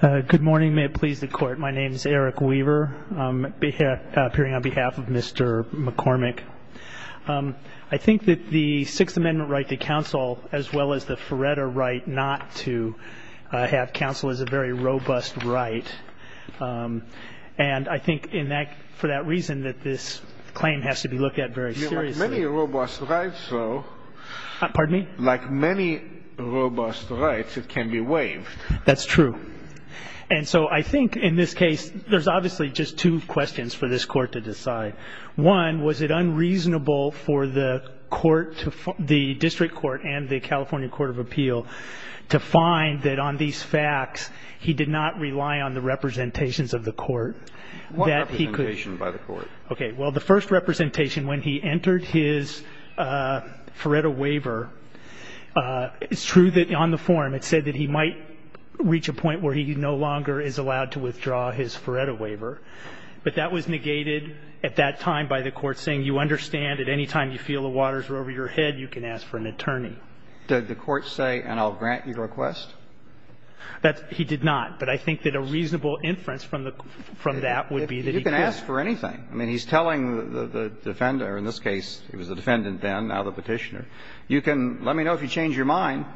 Good morning. May it please the Court. My name is Eric Weaver. I'm appearing on behalf of Mr. McCormick. I think that the Sixth Amendment right to counsel, as well as the Feretta right not to have counsel, is a very robust right. And I think for that reason that this claim has to be looked at very seriously. You have many robust rights, though. Pardon me? Like many robust rights, it can be waived. That's true. And so I think in this case, there's obviously just two questions for this Court to decide. One, was it unreasonable for the District Court and the California Court of Appeal to find that on these facts, he did not rely on the representations of the Court? What representation by the Court? Okay, well, the first representation when he entered his Feretta waiver, it's true that on the form it said that he might reach a point where he no longer is allowed to withdraw his Feretta waiver. But that was negated at that time by the Court saying, you understand, at any time you feel the waters are over your head, you can ask for an attorney. Did the Court say, and I'll grant your request? He did not. But I think that a reasonable inference from that would be that he could. You can ask for anything. I mean, he's telling the defendant, or in this case, it was the defendant then, now the Petitioner, you can let me know if you change your mind,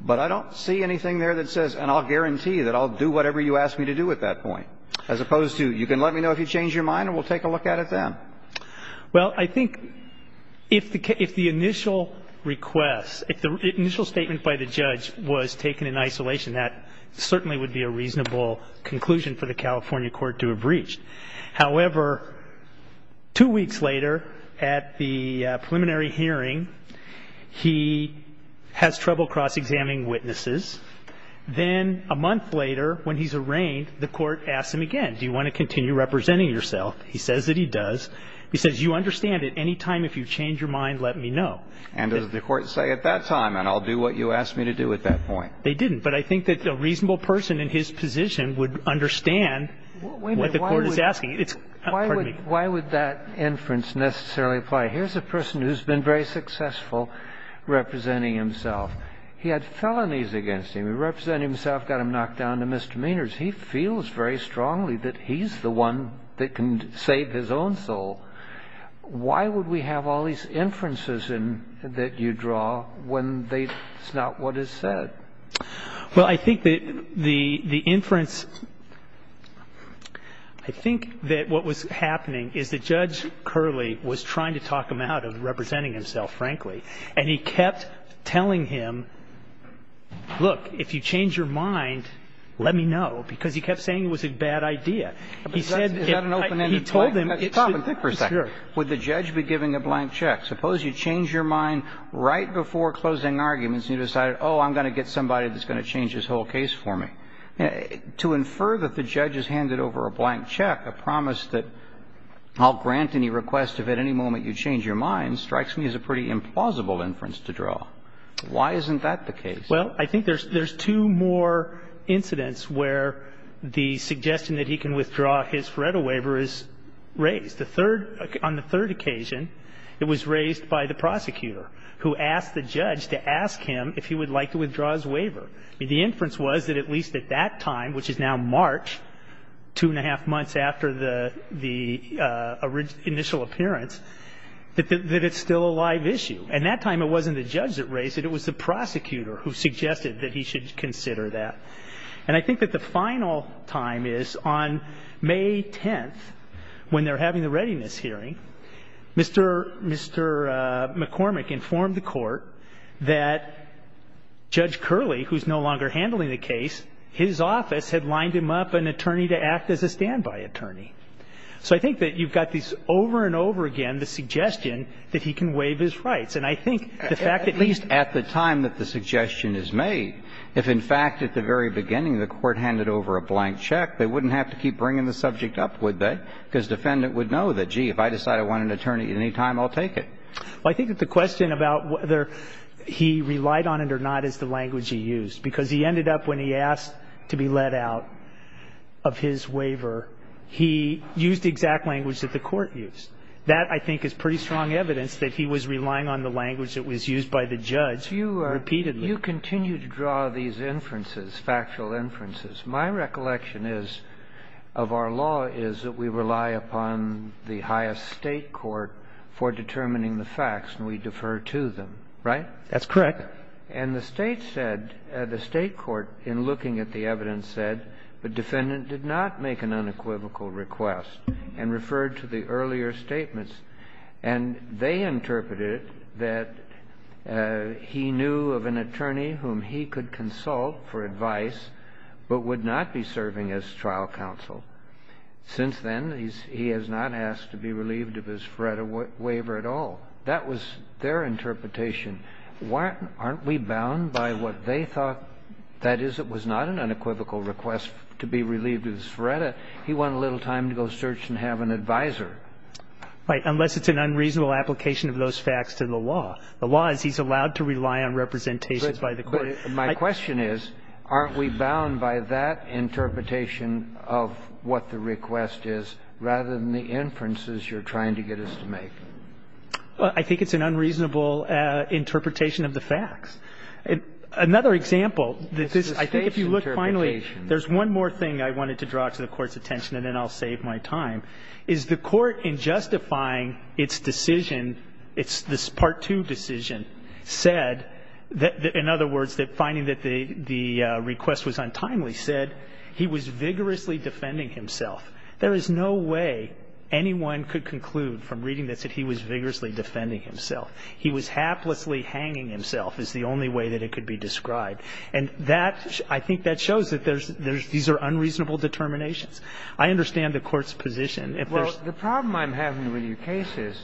but I don't see anything there that says and I'll guarantee that I'll do whatever you ask me to do at that point, as opposed to you can let me know if you change your mind and we'll take a look at it then. Well, I think if the initial request, if the initial statement by the judge was taken in isolation, that certainly would be a reasonable conclusion for the California Court to have reached. However, two weeks later at the preliminary hearing, he has trouble cross-examining witnesses. Then a month later, when he's arraigned, the Court asks him again, do you want to continue representing yourself? He says that he does. He says, you understand, at any time if you change your mind, let me know. And does the Court say at that time, and I'll do what you ask me to do at that point? They didn't. But I think that a reasonable person in his position would understand what the Court is asking. Why would that inference necessarily apply? Here's a person who's been very successful representing himself. He had felonies against him. He represented himself, got him knocked down to misdemeanors. He feels very strongly that he's the one that can save his own soul. Why would we have all these inferences that you draw when it's not what is said? Well, I think that the inference – I think that what was happening is that Judge Curley was trying to talk him out of representing himself, frankly, and he kept telling him, look, if you change your mind, let me know, because he kept saying it was a bad idea. He said if I – he told him it should – Is that an open-ended point? Tom, think for a second. Sure. Would the judge be giving a blank check? Suppose you change your mind right before closing arguments and you decided, oh, I'm going to get somebody that's going to change this whole case for me. To infer that the judge has handed over a blank check, a promise that I'll grant any request if at any moment you change your mind, strikes me as a pretty implausible inference to draw. Why isn't that the case? Well, I think there's two more incidents where the suggestion that he can withdraw his FORETA waiver is raised. The third – on the third occasion, it was raised by the prosecutor who asked the judge to ask him if he would like to withdraw his waiver. The inference was that at least at that time, which is now March, two and a half months after the initial appearance, that it's still a live issue. And that time it wasn't the judge that raised it. It was the prosecutor who suggested that he should consider that. And I think that the final time is on May 10th, when they're having the readiness hearing, Mr. McCormick informed the Court that Judge Curley, who's no longer handling the case, his office had lined him up an attorney to act as a standby attorney. So I think that you've got these over and over again, the suggestion that he can waive his rights. And I think the fact that he's – going to change the fact that he's a stand-alone attorney. I mean, at the very beginning, the court handed over a blank check. They wouldn't have to keep bringing the subject up, would they? Because the defendant would know that, gee, if I decide I want an attorney at any time, I'll take it. Well, I think that the question about whether he relied on it or not is the language he used, because he ended up, when he asked to be let out of his waiver, he used the exact language that the court used. That, I think, is pretty strong evidence that he was relying on the language that was used by the judge repeatedly. You continue to draw these inferences, factual inferences. My recollection is, of our law, is that we rely upon the highest state court for determining the facts, and we defer to them, right? That's correct. And the State said, the State court, in looking at the evidence, said the defendant did not make an unequivocal request and referred to the earlier statements. And they interpreted that he knew of an attorney whom he could consult for advice but would not be serving as trial counsel. Since then, he has not asked to be relieved of his FREDA waiver at all. That was their interpretation. Aren't we bound by what they thought? That is, it was not an unequivocal request to be relieved of his FREDA. He wanted a little time to go search and have an advisor. Right. Unless it's an unreasonable application of those facts to the law. The law is he's allowed to rely on representations by the court. But my question is, aren't we bound by that interpretation of what the request is rather than the inferences you're trying to get us to make? Well, I think it's an unreasonable interpretation of the facts. Another example that this, I think if you look finally, there's one more thing I wanted to draw to the Court's attention, and then I'll save my time, is the Court in justifying its decision, its part two decision, said that, in other words, that finding that the request was untimely, said he was vigorously defending himself. There is no way anyone could conclude from reading this that he was vigorously defending himself. He was haplessly hanging himself is the only way that it could be described. And that, I think that shows that there's, these are unreasonable determinations. I understand the Court's position. Well, the problem I'm having with your case is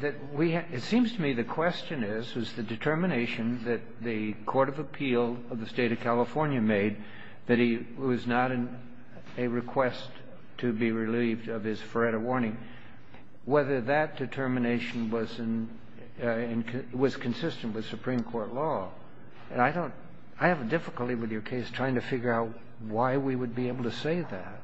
that we have, it seems to me the question is, is the determination that the court of appeal of the State of California made that he was not in a request to be relieved of his Feretta warning, whether that determination was in, was consistent with Supreme Court law? And I don't, I have difficulty with your case trying to figure out why we would be able to say that.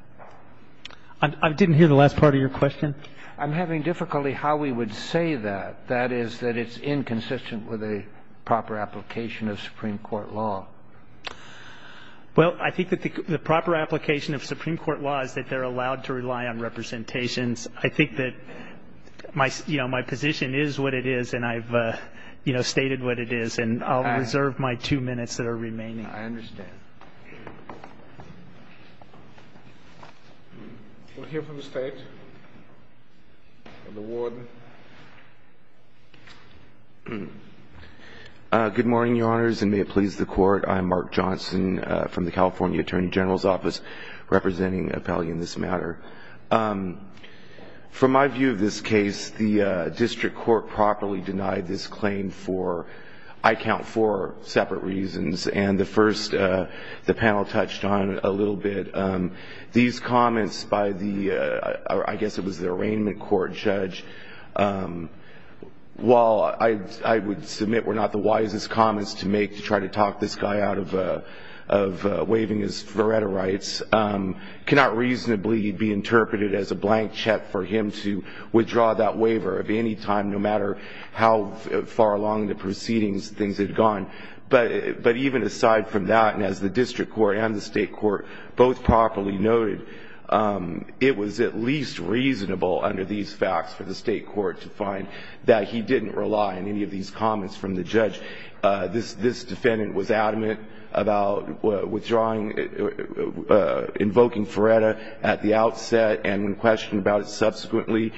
I didn't hear the last part of your question. I'm having difficulty how we would say that, that is, that it's inconsistent with a proper application of Supreme Court law. Well, I think that the proper application of Supreme Court law is that they're allowed to rely on representations. I think that my, you know, my position is what it is, and I've, you know, stated what it is. And I'll reserve my two minutes that are remaining. I understand. We'll hear from the State. The Warden. Good morning, Your Honors, and may it please the Court. I'm Mark Johnson from the California Attorney General's Office, representing an appellee in this matter. From my view of this case, the district court properly denied this claim for, I count four separate reasons. And the first, the panel touched on it a little bit. These comments by the, I guess it was the arraignment court judge, while I would submit were not the wisest comments to make to try to talk this guy out of waiving his veretta rights, cannot reasonably be interpreted as a blank check for him to withdraw that waiver at any time, no matter how far along the proceedings things had gone. But even aside from that, and as the district court and the state court both properly noted, it was at least reasonable under these facts for the state court to find that he didn't rely on any of these comments from the judge. This defendant was adamant about withdrawing, invoking veretta at the outset and questioned about it subsequently.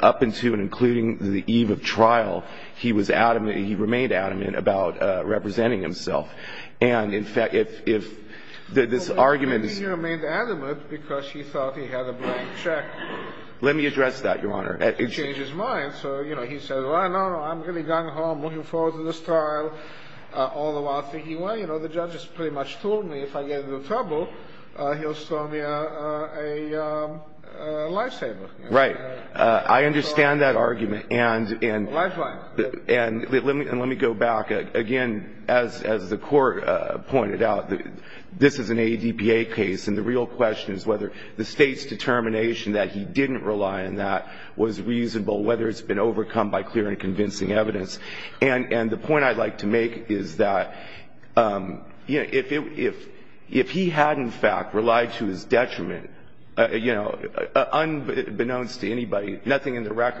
Up until and including the eve of trial, he was adamant, he remained adamant about representing himself. And in fact, if this argument is... Well, maybe he remained adamant because he thought he had a blank check. Let me address that, Your Honor. He changed his mind. So, you know, he said, well, no, no, I'm really going home, looking forward to this trial, all the while thinking, well, you know, the judge has pretty much told me if I get into trouble, he'll show me a lifesaver. Right. I understand that argument. And let me go back. Again, as the Court pointed out, this is an ADPA case, and the real question is whether the State's determination that he didn't rely on that was reasonable, whether it's been overcome by clear and convincing evidence. And the point I'd like to make is that, you know, if he had, in fact, relied to his detriment on that, and this, especially this defendant, who didn't seem reticent about involving himself in this case, if he had relied to his detriment on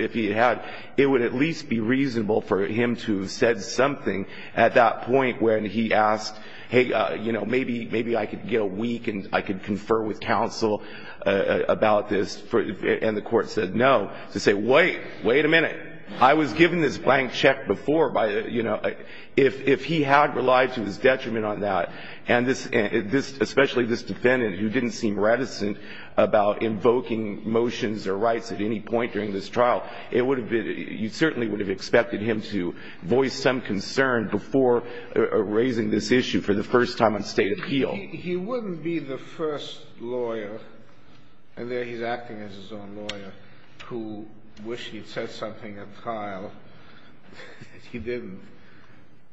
that, it would at least be reasonable for him to have said something at that point when he asked, hey, you know, maybe I could get a week and I could confer with counsel about this, and the Court said no, to say, wait, wait a minute, I was given this blank check before by, you know, if he had relied to his detriment on that, and this, especially this defendant, who didn't seem reticent about invoking motions or rights at any point during this trial, it would have been, you certainly would have expected him to voice some concern before raising this issue for the first time on State appeal. He wouldn't be the first lawyer, and there he's acting as his own lawyer, who wished he'd said something at trial that he didn't,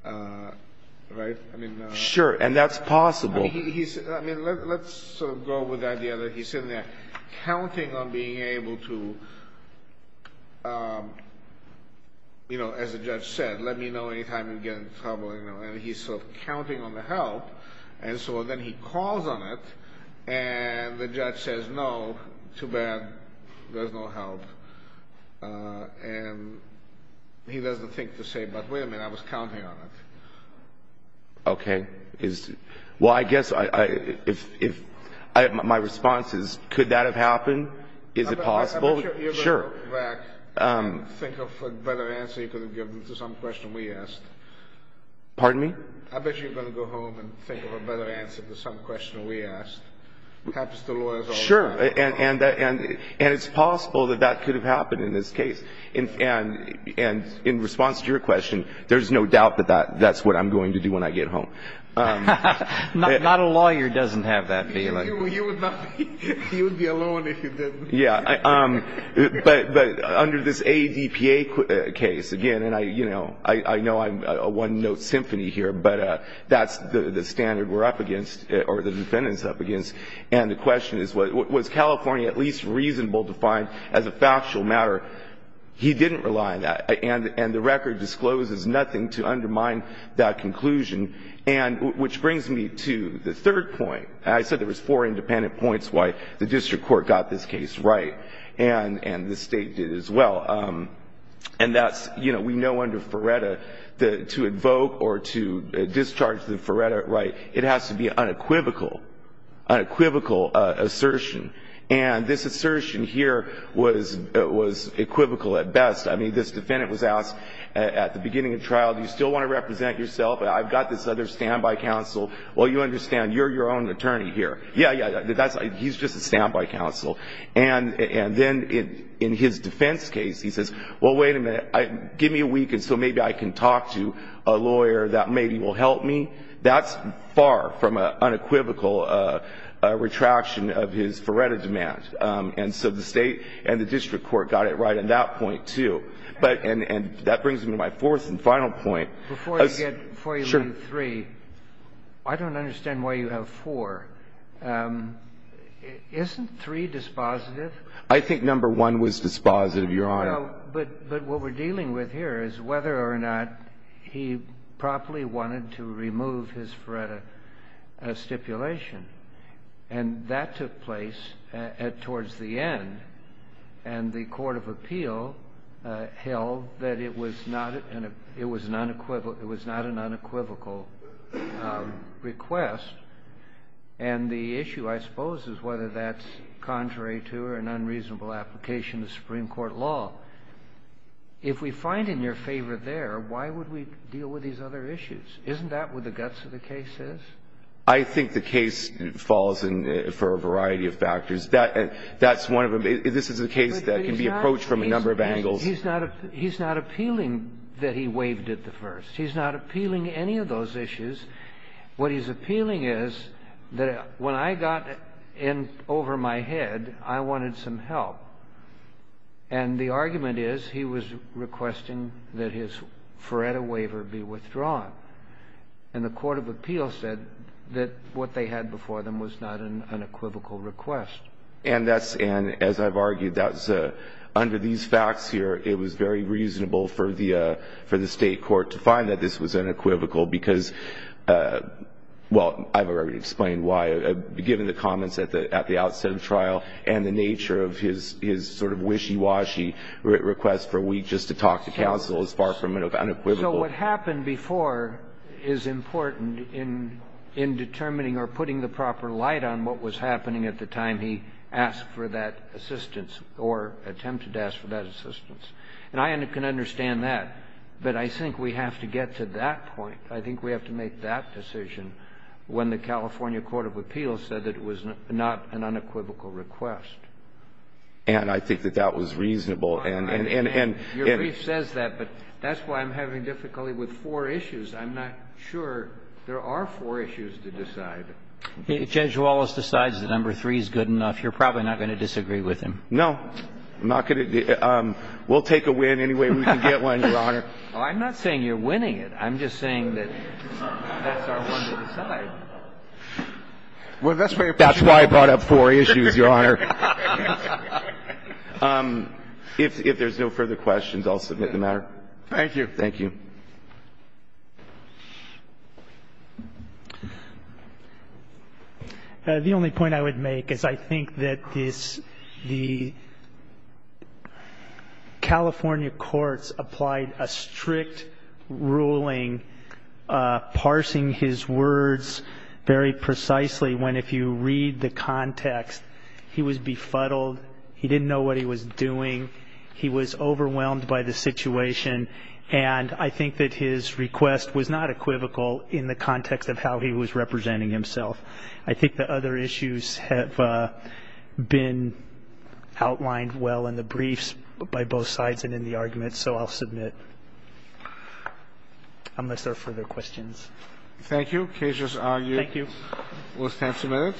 right? I mean, no. Sure, and that's possible. I mean, let's sort of go with the idea that he's sitting there counting on being able to, you know, as the judge said, let me know any time you get in trouble, you know, and he's sort of counting on the help, and so then he calls on it, and the judge says no, too bad, there's no help, and he doesn't think to say, but wait a minute, I was counting on it. Okay. Well, I guess my response is, could that have happened? Is it possible? Sure. I bet you're going to go back and think of a better answer you could have given to some question we asked. Pardon me? I bet you're going to go home and think of a better answer to some question we asked. Happens to lawyers all the time. Sure. And it's possible that that could have happened in this case. And in response to your question, there's no doubt that that's what I'm going to do when I get home. Not a lawyer doesn't have that feeling. He would be alone if he didn't. Yeah. But under this ADPA case, again, and I, you know, I know I'm a one-note symphony here, but that's the standard we're up against, or the defendant's up against, and the question is, was California at least reasonable to find as a factual matter? He didn't rely on that. And the record discloses nothing to undermine that conclusion. And which brings me to the third point. I said there was four independent points why the district court got this case right. And the State did as well. And that's, you know, we know under Ferretta, to invoke or to discharge the Ferretta right, it has to be unequivocal, unequivocal assertion. And this assertion here was equivocal at best. I mean, this defendant was asked at the beginning of trial, do you still want to represent yourself? I've got this other standby counsel. Well, you understand, you're your own attorney here. Yeah, yeah. He's just a standby counsel. And then in his defense case, he says, well, wait a minute. Give me a week and so maybe I can talk to a lawyer that maybe will help me. That's far from an unequivocal retraction of his Ferretta demand. And so the State and the district court got it right on that point, too. And that brings me to my fourth and final point. Before you get to three, I don't understand why you have four. Isn't three dispositive? I think number one was dispositive, Your Honor. Well, but what we're dealing with here is whether or not he properly wanted to remove his Ferretta stipulation. And that took place towards the end. And the court of appeal held that it was not an unequivocal request. And the issue, I suppose, is whether that's contrary to or an unreasonable application of Supreme Court law. If we find in your favor there, why would we deal with these other issues? Isn't that what the guts of the case is? I think the case falls in for a variety of factors. That's one of them. This is a case that can be approached from a number of angles. He's not appealing that he waived it at first. He's not appealing any of those issues. What he's appealing is that when I got in over my head, I wanted some help. And the argument is he was requesting that his Ferretta waiver be withdrawn. And the court of appeal said that what they had before them was not an unequivocal request. And that's an, as I've argued, that's under these facts here, it was very reasonable for the State court to find that this was unequivocal because, well, I've already explained why. Given the comments at the outset of trial and the nature of his sort of wishy-washy request for a week just to talk to counsel is far from unequivocal. So what happened before is important in determining or putting the proper light on what was happening at the time he asked for that assistance or attempted to ask for that assistance. And I can understand that, but I think we have to get to that point. I think we have to make that decision when the California court of appeal said that it was not an unequivocal request. And I think that that was reasonable. And, and, and, and. Your brief says that, but that's why I'm having difficulty with four issues. I'm not sure there are four issues to decide. If Judge Wallace decides that number three is good enough, you're probably not going to disagree with him. No. I'm not going to. We'll take a win any way we can get one, Your Honor. Oh, I'm not saying you're winning it. I'm just saying that that's our one to decide. Well, that's why you're putting four issues. That's why I brought up four issues, Your Honor. If there's no further questions, I'll submit the matter. Thank you. Thank you. The only point I would make is I think that this, the California courts applied a strict ruling parsing his words very precisely when, if you read the context, he was befuddled. He didn't know what he was doing. He was overwhelmed by the situation. And I think that his request was not equivocal in the context of how he was representing himself. I think the other issues have been outlined well in the briefs by both sides and in the arguments, so I'll submit unless there are further questions. Thank you. Case is argued. Thank you. We'll stand for a minute.